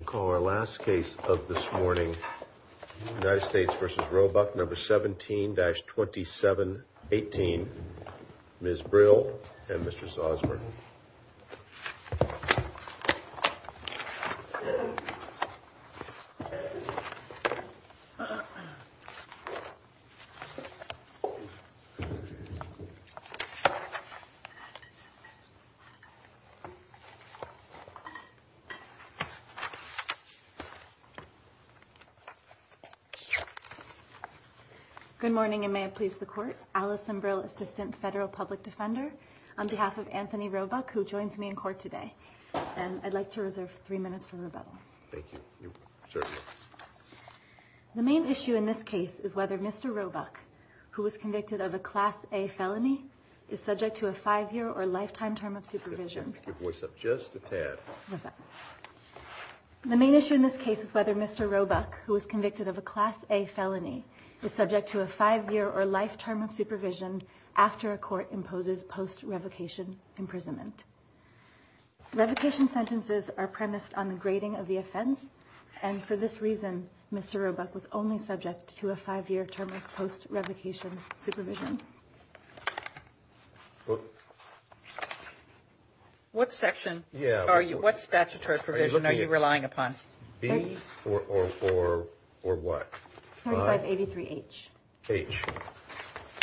I call our last case of this morning, United States v. Roebuck, No. 17-2718, Ms. Brill and Mr. Zosmer. Good morning, and may it please the Court. Alison Brill, Assistant Federal Public Defender, on behalf of Anthony Roebuck, who joins me in court today. And I'd like to reserve three minutes for rebuttal. Thank you. Certainly. The main issue in this case is whether Mr. Roebuck, who was convicted of a Class A felony, is subject to a five-year or lifetime term of supervision. Could you voice up just a tad? The main issue in this case is whether Mr. Roebuck, who was convicted of a Class A felony, is subject to a five-year or lifetime term of supervision after a court imposes post-revocation imprisonment. Revocation sentences are premised on the grading of the offense, and for this reason, Mr. Roebuck was only subject to a five-year term of post-revocation supervision. What section are you – what statutory provision are you relying upon? B or what? 2583H.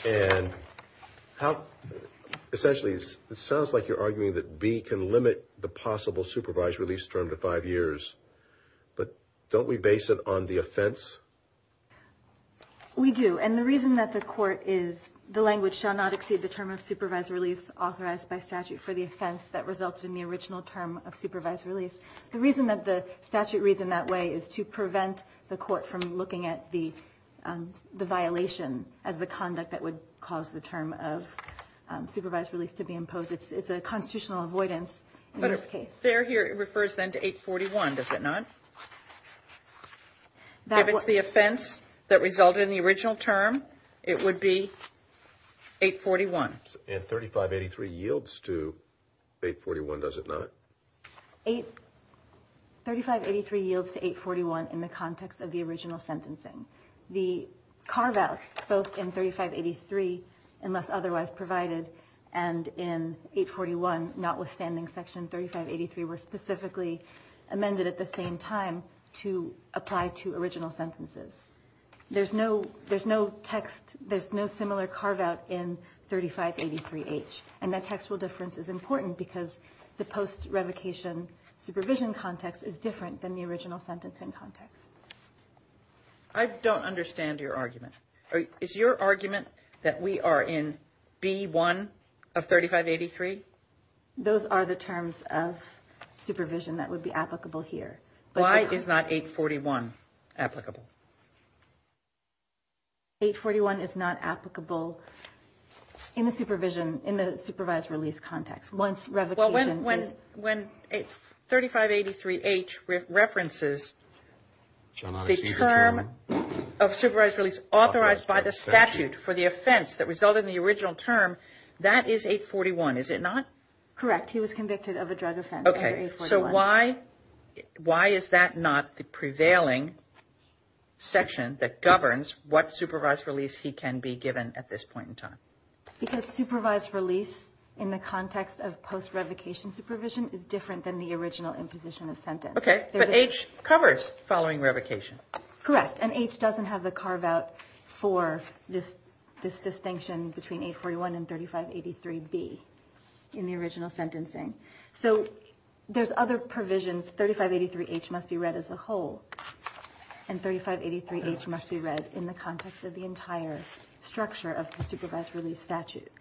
And how – essentially, it sounds like you're arguing that B can limit the possible supervised release term to five years, but don't we base it on the offense? We do, and the reason that the Court is – the language shall not exceed the term of supervised release authorized by statute for the offense that resulted in the original term of supervised release. The reason that the statute reads in that way is to prevent the Court from looking at the violation as the conduct that would cause the term of supervised release to be imposed. It's a constitutional avoidance in this case. But if it's there here, it refers then to 841, does it not? If it's the offense that resulted in the original term, it would be 841. And 3583 yields to 841, does it not? 8 – 3583 yields to 841 in the context of the original sentencing. The carve-outs, both in 3583, unless otherwise provided, and in 841, notwithstanding Section 3583, were specifically amended at the same time to apply to original sentences. There's no – there's no text – there's no similar carve-out in 3583H, and that textual difference is important because the post-revocation supervision context is different than the original sentencing context. I don't understand your argument. Is your argument that we are in B1 of 3583? Those are the terms of supervision that would be applicable here. Why is not 841 applicable? 841 is not applicable in the supervision – in the supervised release context. Well, when – when 3583H references the term of supervised release authorized by the statute for the offense that resulted in the original term, that is 841, is it not? Correct. He was convicted of a drug offense under 841. Okay. So why – why is that not the prevailing section that governs what supervised release he can be given at this point in time? Because supervised release in the context of post-revocation supervision is different than the original imposition of sentence. Okay. But H covers following revocation. Correct. And H doesn't have the carve-out for this distinction between 841 and 3583B in the original sentencing. So there's other provisions. 3583H must be read as a whole. And 3583H must be read in the context of the entire structure of the supervised release statute.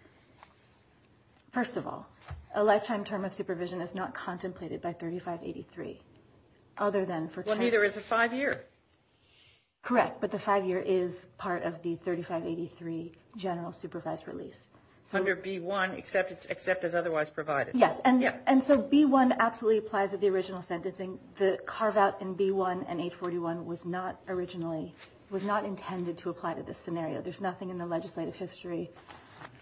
First of all, a lifetime term of supervision is not contemplated by 3583, other than for – Well, neither is a five-year. Correct. But the five-year is part of the 3583 general supervised release. Under B1, except as otherwise provided. Yes. And so B1 absolutely applies to the original sentencing. The carve-out in B1 and 841 was not originally – was not intended to apply to this scenario. There's nothing in the legislative history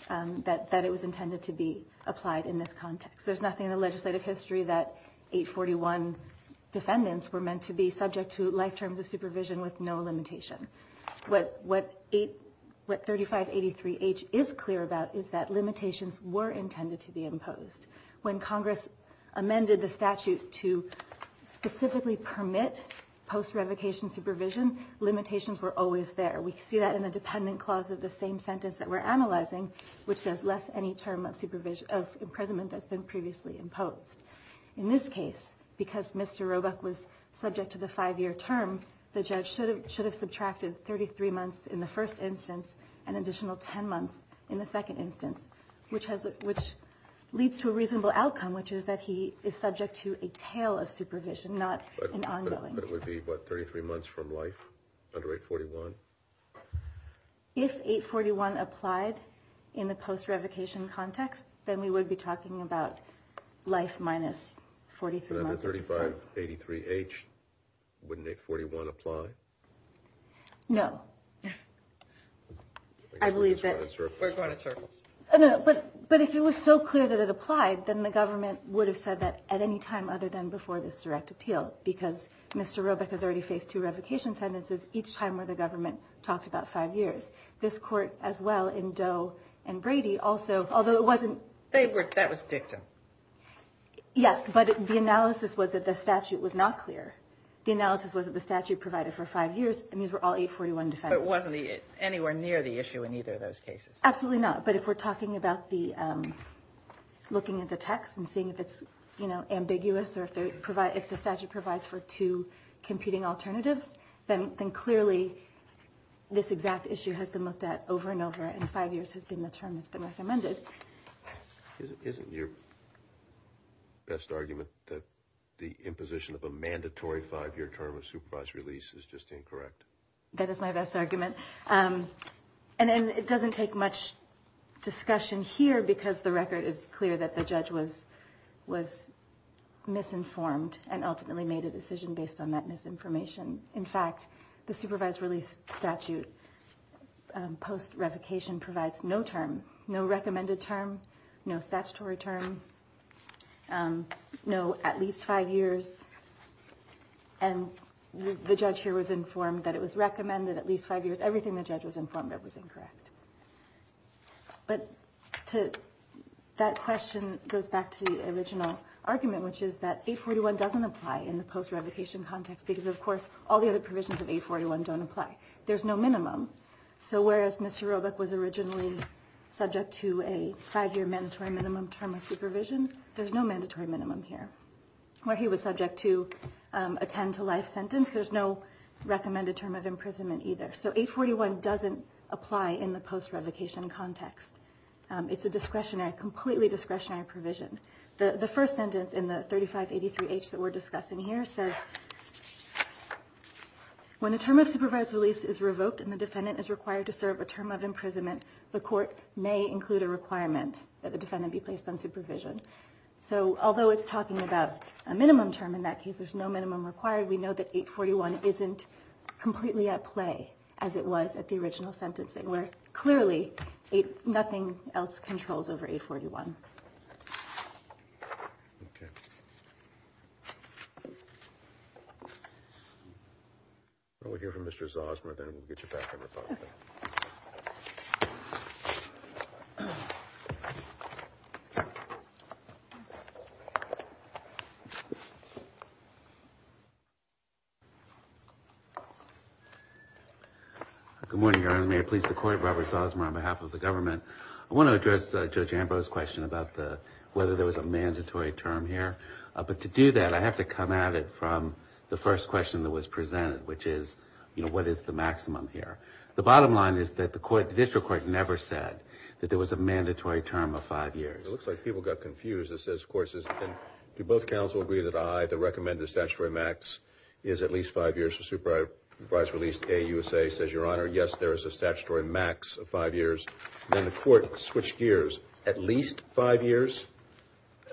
that it was intended to be applied in this context. There's nothing in the legislative history that 841 defendants were meant to be subject to life terms of supervision with no limitation. What 3583H is clear about is that limitations were intended to be imposed. When Congress amended the statute to specifically permit post-revocation supervision, limitations were always there. We see that in the dependent clause of the same sentence that we're analyzing, which says less any term of imprisonment that's been previously imposed. In this case, because Mr. Roebuck was subject to the five-year term, the judge should have subtracted 33 months in the first instance and an additional 10 months in the second instance, which leads to a reasonable outcome, which is that he is subject to a tail of supervision, not an ongoing. But it would be, what, 33 months from life under 841? If 841 applied in the post-revocation context, then we would be talking about life minus 43 months. But under 3583H, wouldn't 841 apply? No. I believe that – Where's my answer? No, but if it was so clear that it applied, then the government would have said that at any time other than before this direct appeal, because Mr. Roebuck has already faced two revocation sentences each time where the government talked about five years. This court, as well, in Doe and Brady, also – although it wasn't – That was dictum. Yes, but the analysis was that the statute was not clear. The analysis was that the statute provided for five years, and these were all 841 defendants. But it wasn't anywhere near the issue in either of those cases. Absolutely not. But if we're talking about the – looking at the text and seeing if it's ambiguous or if the statute provides for two competing alternatives, then clearly this exact issue has been looked at over and over, and five years has been the term that's been recommended. Isn't your best argument that the imposition of a mandatory five-year term of supervised release is just incorrect? That is my best argument. And it doesn't take much discussion here because the record is clear that the judge was misinformed and ultimately made a decision based on that misinformation. In fact, the supervised release statute post-revocation provides no term, no recommended term, no statutory term, no at least five years. And the judge here was informed that it was recommended at least five years. Everything the judge was informed of was incorrect. But to – that question goes back to the original argument, which is that 841 doesn't apply in the post-revocation context because, of course, all the other provisions of 841 don't apply. There's no minimum. So whereas Mr. Roebuck was originally subject to a five-year mandatory minimum term of supervision, there's no mandatory minimum here. Where he was subject to a 10-to-life sentence, there's no recommended term of imprisonment either. So 841 doesn't apply in the post-revocation context. It's a discretionary, completely discretionary provision. The first sentence in the 3583H that we're discussing here says, When a term of supervised release is revoked and the defendant is required to serve a term of imprisonment, the court may include a requirement that the defendant be placed on supervision. So although it's talking about a minimum term in that case, there's no minimum required. We know that 841 isn't completely at play as it was at the original sentencing, where clearly nothing else controls over 841. I want to hear from Mr. Zosmer, then we'll get you back on record. Good morning, Your Honor. May I please support Robert Zosmer on behalf of the government? I want to address Judge Ambrose's question about whether there was a mandatory term here. But to do that, I have to come at it from the first question that was presented, which is, you know, what is the maximum here? The bottom line is that the district court never said that there was a mandatory term of five years. It looks like people got confused. It says, of course, do both counsel agree that I, the recommended statutory max, is at least five years for supervised release. AUSA says, Your Honor, yes, there is a statutory max of five years. Then the court switched gears. At least five years,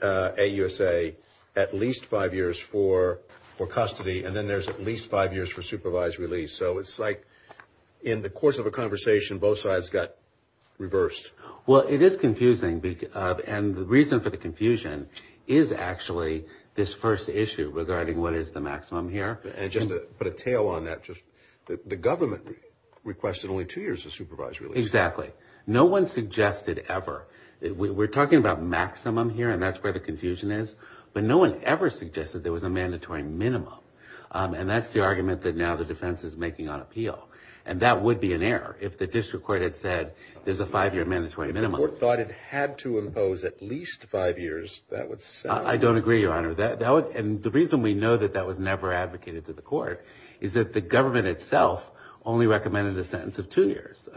AUSA, at least five years for custody, and then there's at least five years for supervised release. So it's like in the course of a conversation, both sides got reversed. Well, it is confusing, and the reason for the confusion is actually this first issue regarding what is the maximum here. And just to put a tail on that, the government requested only two years of supervised release. Exactly. No one suggested ever. We're talking about maximum here, and that's where the confusion is. But no one ever suggested there was a mandatory minimum. And that's the argument that now the defense is making on appeal. And that would be an error. If the district court had said there's a five-year mandatory minimum. If the court thought it had to impose at least five years, that would sound like. I don't agree, Your Honor. And the reason we know that that was never advocated to the court is that the government itself only recommended a sentence of two years.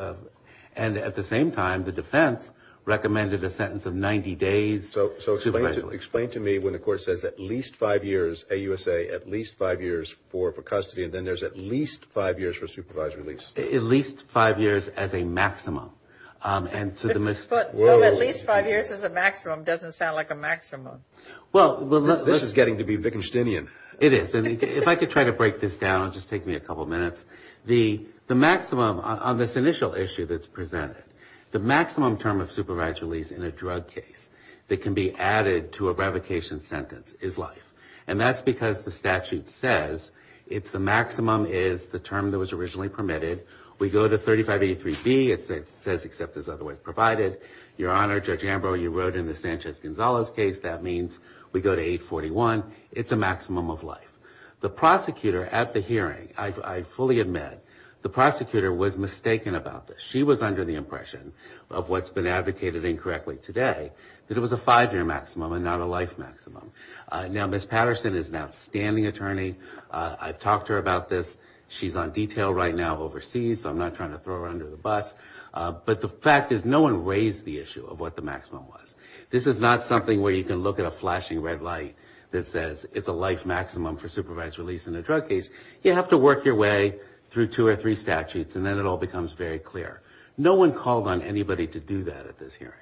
And at the same time, the defense recommended a sentence of 90 days. So explain to me when the court says at least five years, AUSA, at least five years for custody, and then there's at least five years for supervised release. At least five years as a maximum. At least five years as a maximum doesn't sound like a maximum. This is getting to be Wittgensteinian. It is. And if I could try to break this down, it would just take me a couple minutes. The maximum on this initial issue that's presented, the maximum term of supervised release in a drug case that can be added to a revocation sentence is life. And that's because the statute says it's the maximum is the term that was originally permitted. We go to 35A3B. It says except as otherwise provided. Your Honor, Judge Ambrose, you wrote in the Sanchez-Gonzalez case, that means we go to 841. It's a maximum of life. The prosecutor at the hearing, I fully admit, the prosecutor was mistaken about this. She was under the impression of what's been advocated incorrectly today, that it was a five-year maximum and not a life maximum. Now, Ms. Patterson is an outstanding attorney. I've talked to her about this. She's on detail right now overseas, so I'm not trying to throw her under the bus. But the fact is no one raised the issue of what the maximum was. This is not something where you can look at a flashing red light that says it's a life maximum for supervised release in a drug case. You have to work your way through two or three statutes, and then it all becomes very clear. No one called on anybody to do that at this hearing.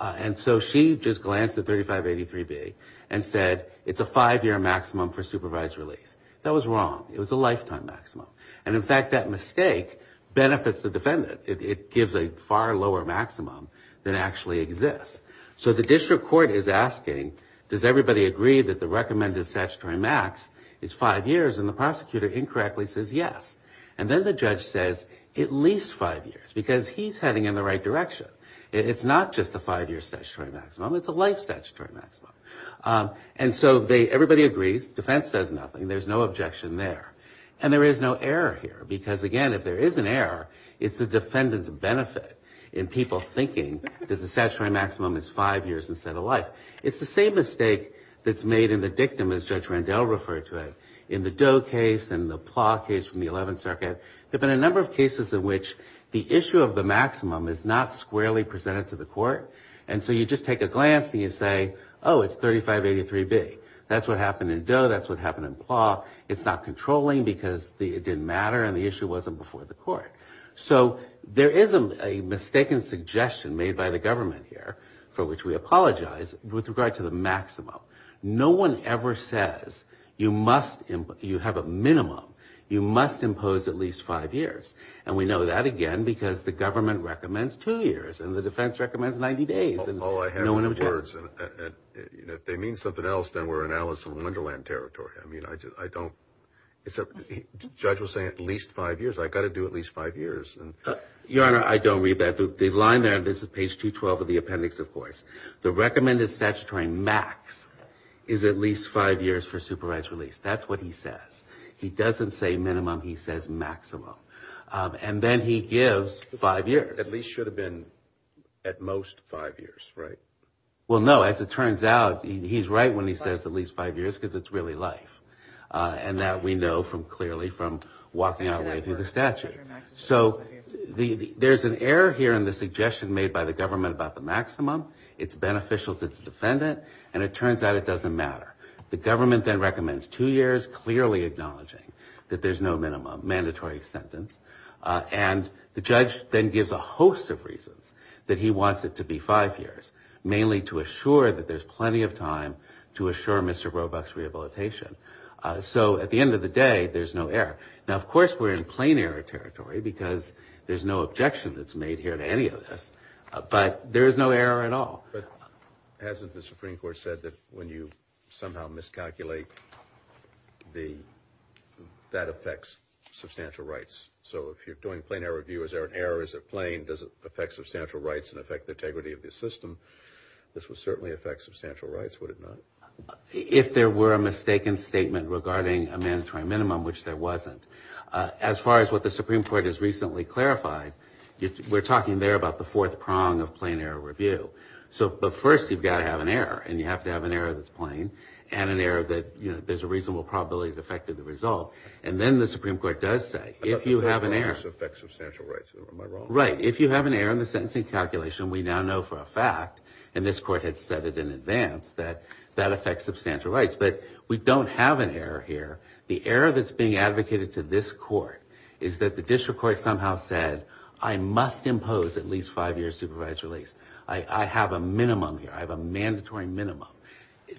And so she just glanced at 3583B and said it's a five-year maximum for supervised release. That was wrong. It was a lifetime maximum. And, in fact, that mistake benefits the defendant. It gives a far lower maximum than actually exists. So the district court is asking, does everybody agree that the recommended statutory max is five years? And the prosecutor incorrectly says yes. And then the judge says at least five years, because he's heading in the right direction. It's not just a five-year statutory maximum. It's a life statutory maximum. And so everybody agrees. Defense says nothing. There's no objection there. And there is no error here. Because, again, if there is an error, it's the defendant's benefit in people thinking that the statutory maximum is five years instead of life. It's the same mistake that's made in the dictum, as Judge Randell referred to it, in the Doe case and the Plaw case from the 11th Circuit. There have been a number of cases in which the issue of the maximum is not squarely presented to the court. And so you just take a glance and you say, oh, it's 3583B. That's what happened in Doe. That's what happened in Plaw. It's not controlling because it didn't matter and the issue wasn't before the court. So there is a mistaken suggestion made by the government here, for which we apologize, with regard to the maximum. No one ever says you have a minimum, you must impose at least five years. And we know that, again, because the government recommends two years and the defense recommends 90 days. No one objected. If they mean something else, then we're in Alice in Wonderland territory. I mean, I don't. The judge was saying at least five years. I've got to do at least five years. Your Honor, I don't read that. The line there, this is page 212 of the appendix, of course. The recommended statutory max is at least five years for supervised release. That's what he says. He doesn't say minimum. He says maximum. And then he gives five years. At least should have been at most five years, right? Well, no, as it turns out, he's right when he says at least five years, because it's really life. And that we know clearly from walking our way through the statute. So there's an error here in the suggestion made by the government about the maximum. It's beneficial to the defendant. And it turns out it doesn't matter. The government then recommends two years, clearly acknowledging that there's no minimum, mandatory sentence. And the judge then gives a host of reasons that he wants it to be five years, mainly to assure that there's plenty of time to assure Mr. Roebuck's rehabilitation. So at the end of the day, there's no error. Now, of course, we're in plain error territory, because there's no objection that's made here to any of this. But there is no error at all. But hasn't the Supreme Court said that when you somehow miscalculate, that affects substantial rights? So if you're doing plain error review, is there an error? Is it plain? Does it affect substantial rights and affect the integrity of the system? This would certainly affect substantial rights, would it not? If there were a mistaken statement regarding a mandatory minimum, which there wasn't. As far as what the Supreme Court has recently clarified, we're talking there about the fourth prong of plain error review. But first, you've got to have an error. And you have to have an error that's plain, and an error that there's a reasonable probability it affected the result. And then the Supreme Court does say, if you have an error. If you have an error, this affects substantial rights. Am I wrong? Right. If you have an error in the sentencing calculation, we now know for a fact, and this court had said it in advance, that that affects substantial rights. But we don't have an error here. The error that's being advocated to this court is that the district court somehow said, I must impose at least five years supervised release. I have a minimum here. I have a mandatory minimum.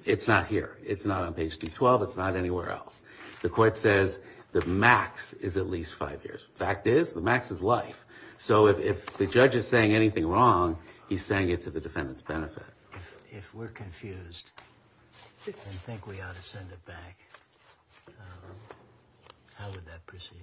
It's not here. It's not on page 212. It's not anywhere else. The court says the max is at least five years. Fact is, the max is life. So if the judge is saying anything wrong, he's saying it to the defendant's benefit. If we're confused and think we ought to send it back, how would that proceed?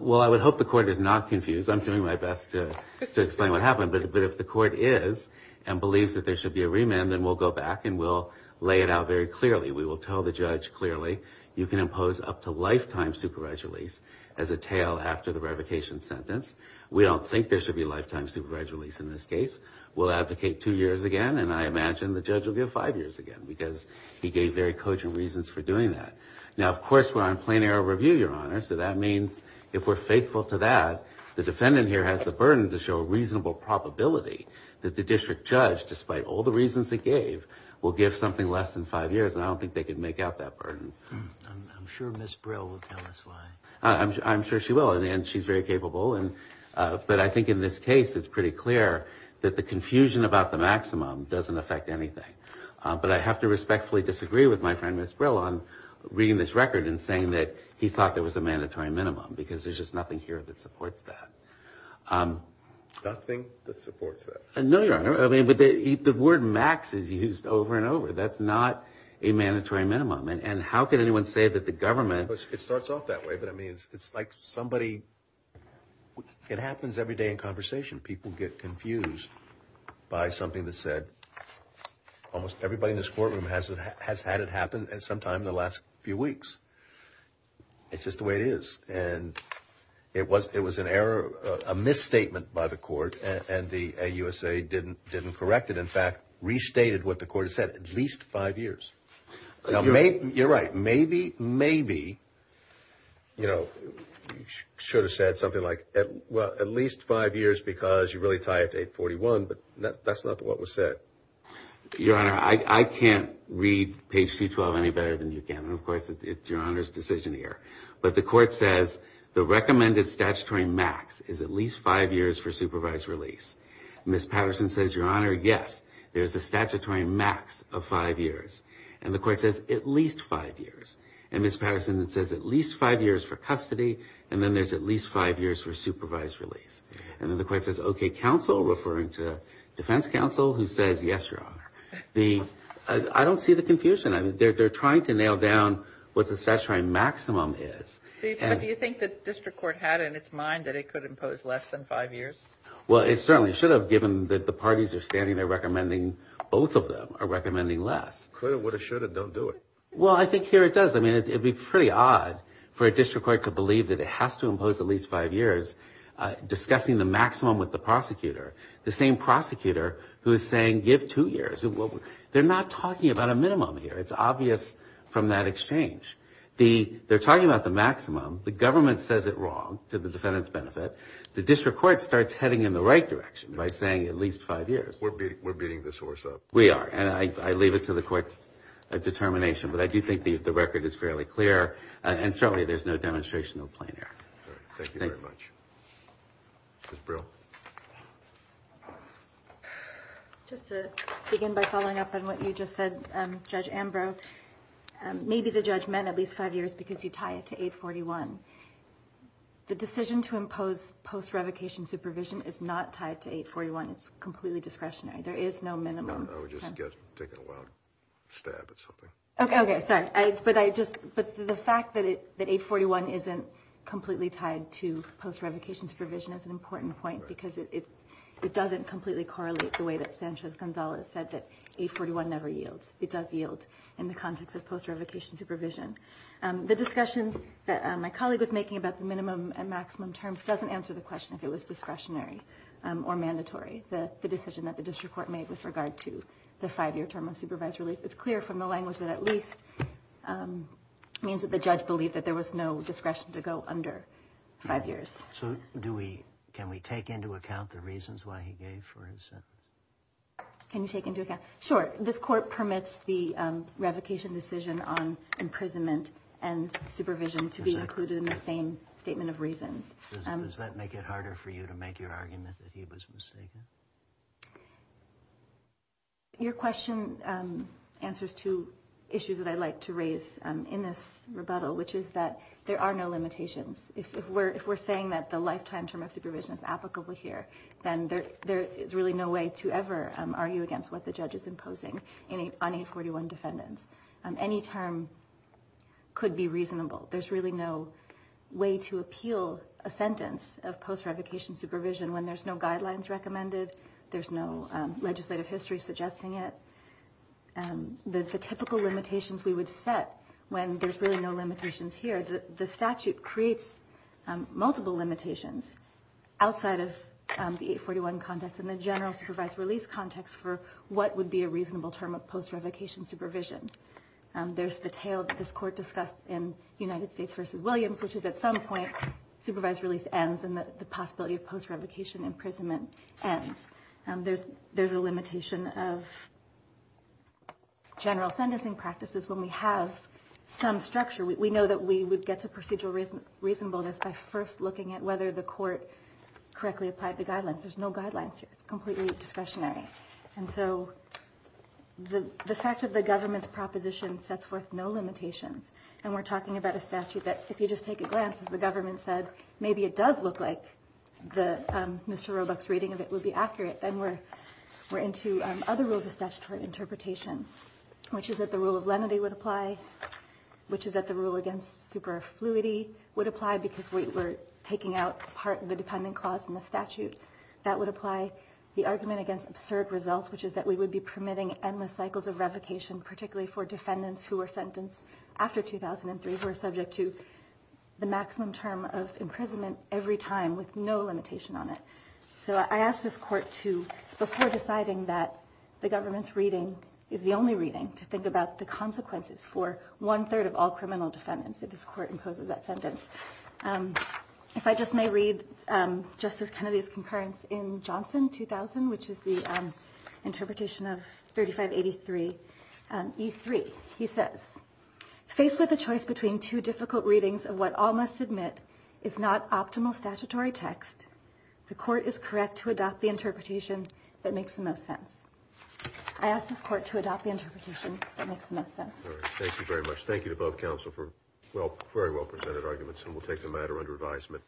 Well, I would hope the court is not confused. I'm doing my best to explain what happened. But if the court is and believes that there should be a remand, then we'll go back and we'll lay it out very clearly. We will tell the judge clearly, you can impose up to lifetime supervised release as a tail after the revocation sentence. We don't think there should be lifetime supervised release in this case. We'll advocate two years again, and I imagine the judge will give five years again because he gave very cogent reasons for doing that. Now, of course, we're on plain error review, Your Honor, so that means if we're faithful to that, the defendant here has the burden to show a reasonable probability that the district judge, despite all the reasons it gave, will give something less than five years, and I don't think they could make out that burden. I'm sure Ms. Brill will tell us why. I'm sure she will, and she's very capable. But I think in this case it's pretty clear that the confusion about the maximum doesn't affect anything. But I have to respectfully disagree with my friend Ms. Brill on reading this record and saying that he thought there was a mandatory minimum because there's just nothing here that supports that. Nothing that supports that? No, Your Honor. I mean, the word max is used over and over. That's not a mandatory minimum, and how can anyone say that the government – It starts off that way, but, I mean, it's like somebody – it happens every day in conversation. People get confused by something that's said. Almost everybody in this courtroom has had it happen sometime in the last few weeks. It's just the way it is, and it was an error, a misstatement by the court, and the AUSA didn't correct it. In fact, restated what the court has said, at least five years. You're right. Maybe, maybe, you know, you should have said something like, well, at least five years because you really tie it to 841, but that's not what was said. Your Honor, I can't read page 212 any better than you can, and, of course, it's Your Honor's decision here. But the court says the recommended statutory max is at least five years for supervised release. Ms. Patterson says, Your Honor, yes, there's a statutory max of five years. And the court says at least five years. And Ms. Patterson says at least five years for custody, and then there's at least five years for supervised release. And then the court says, okay, counsel, referring to defense counsel, who says, yes, Your Honor. I don't see the confusion. They're trying to nail down what the statutory maximum is. But do you think the district court had in its mind that it could impose less than five years? Well, it certainly should have, given that the parties are standing there recommending both of them are recommending less. Could have, would have, should have, don't do it. Well, I think here it does. I mean, it would be pretty odd for a district court to believe that it has to impose at least five years, discussing the maximum with the prosecutor, the same prosecutor who is saying give two years. They're not talking about a minimum here. It's obvious from that exchange. They're talking about the maximum. The government says it wrong, to the defendant's benefit. The district court starts heading in the right direction by saying at least five years. We're beating the source up. We are. And I leave it to the court's determination. But I do think the record is fairly clear. And certainly there's no demonstration of plain error. Thank you very much. Ms. Brill. Just to begin by following up on what you just said, Judge Ambrose, maybe the judge meant at least five years because you tie it to 841. The decision to impose post-revocation supervision is not tied to 841. It's completely discretionary. There is no minimum. I was just taking a wild stab at something. Okay. Sorry. But the fact that 841 isn't completely tied to post-revocation supervision is an important point because it doesn't completely correlate the way that Sanchez-Gonzalez said that 841 never yields. It does yield in the context of post-revocation supervision. The discussion that my colleague was making about the minimum and maximum terms doesn't answer the question if it was discretionary or mandatory, the decision that the district court made with regard to the five-year term of supervised release. It's clear from the language that at least it means that the judge believed that there was no discretion to go under five years. So can we take into account the reasons why he gave for his sentence? Can you take into account? Sure. This court permits the revocation decision on imprisonment and supervision to be included in the same statement of reasons. Does that make it harder for you to make your argument that he was mistaken? Your question answers two issues that I'd like to raise in this rebuttal, which is that there are no limitations. If we're saying that the lifetime term of supervision is applicable here, then there is really no way to ever argue against what the judge is imposing on 841 defendants. Any term could be reasonable. There's really no way to appeal a sentence of post-revocation supervision when there's no guidelines recommended, there's no legislative history suggesting it. The typical limitations we would set when there's really no limitations here, the statute creates multiple limitations outside of the 841 context and the general supervised release context for what would be a reasonable term of post-revocation supervision. There's the tale that this court discussed in United States v. Williams, which is at some point supervised release ends and the possibility of post-revocation imprisonment ends. There's a limitation of general sentencing practices when we have some structure. We know that we would get to procedural reasonableness by first looking at whether the court correctly applied the guidelines. There's no guidelines here. It's completely discretionary. And so the fact that the government's proposition sets forth no limitations, and we're talking about a statute that if you just take a glance, as the government said, maybe it does look like Mr. Roebuck's reading of it would be accurate. Then we're into other rules of statutory interpretation, which is that the rule of lenity would apply, which is that the rule against superfluity would apply because we're taking out part of the dependent clause in the statute. That would apply the argument against absurd results, which is that we would be permitting endless cycles of revocation, particularly for defendants who are sentenced after 2003, who are subject to the maximum term of imprisonment every time with no limitation on it. So I ask this court to, before deciding that the government's reading is the only reading, to think about the consequences for one-third of all criminal defendants if this court imposes that sentence. If I just may read Justice Kennedy's concurrence in Johnson 2000, which is the interpretation of 3583E3. He says, faced with a choice between two difficult readings of what all must admit is not optimal statutory text, the court is correct to adopt the interpretation that makes the most sense. I ask this court to adopt the interpretation that makes the most sense. Thank you very much. Thank you to both counsel for very well presented arguments. And we'll take the matter under advisement.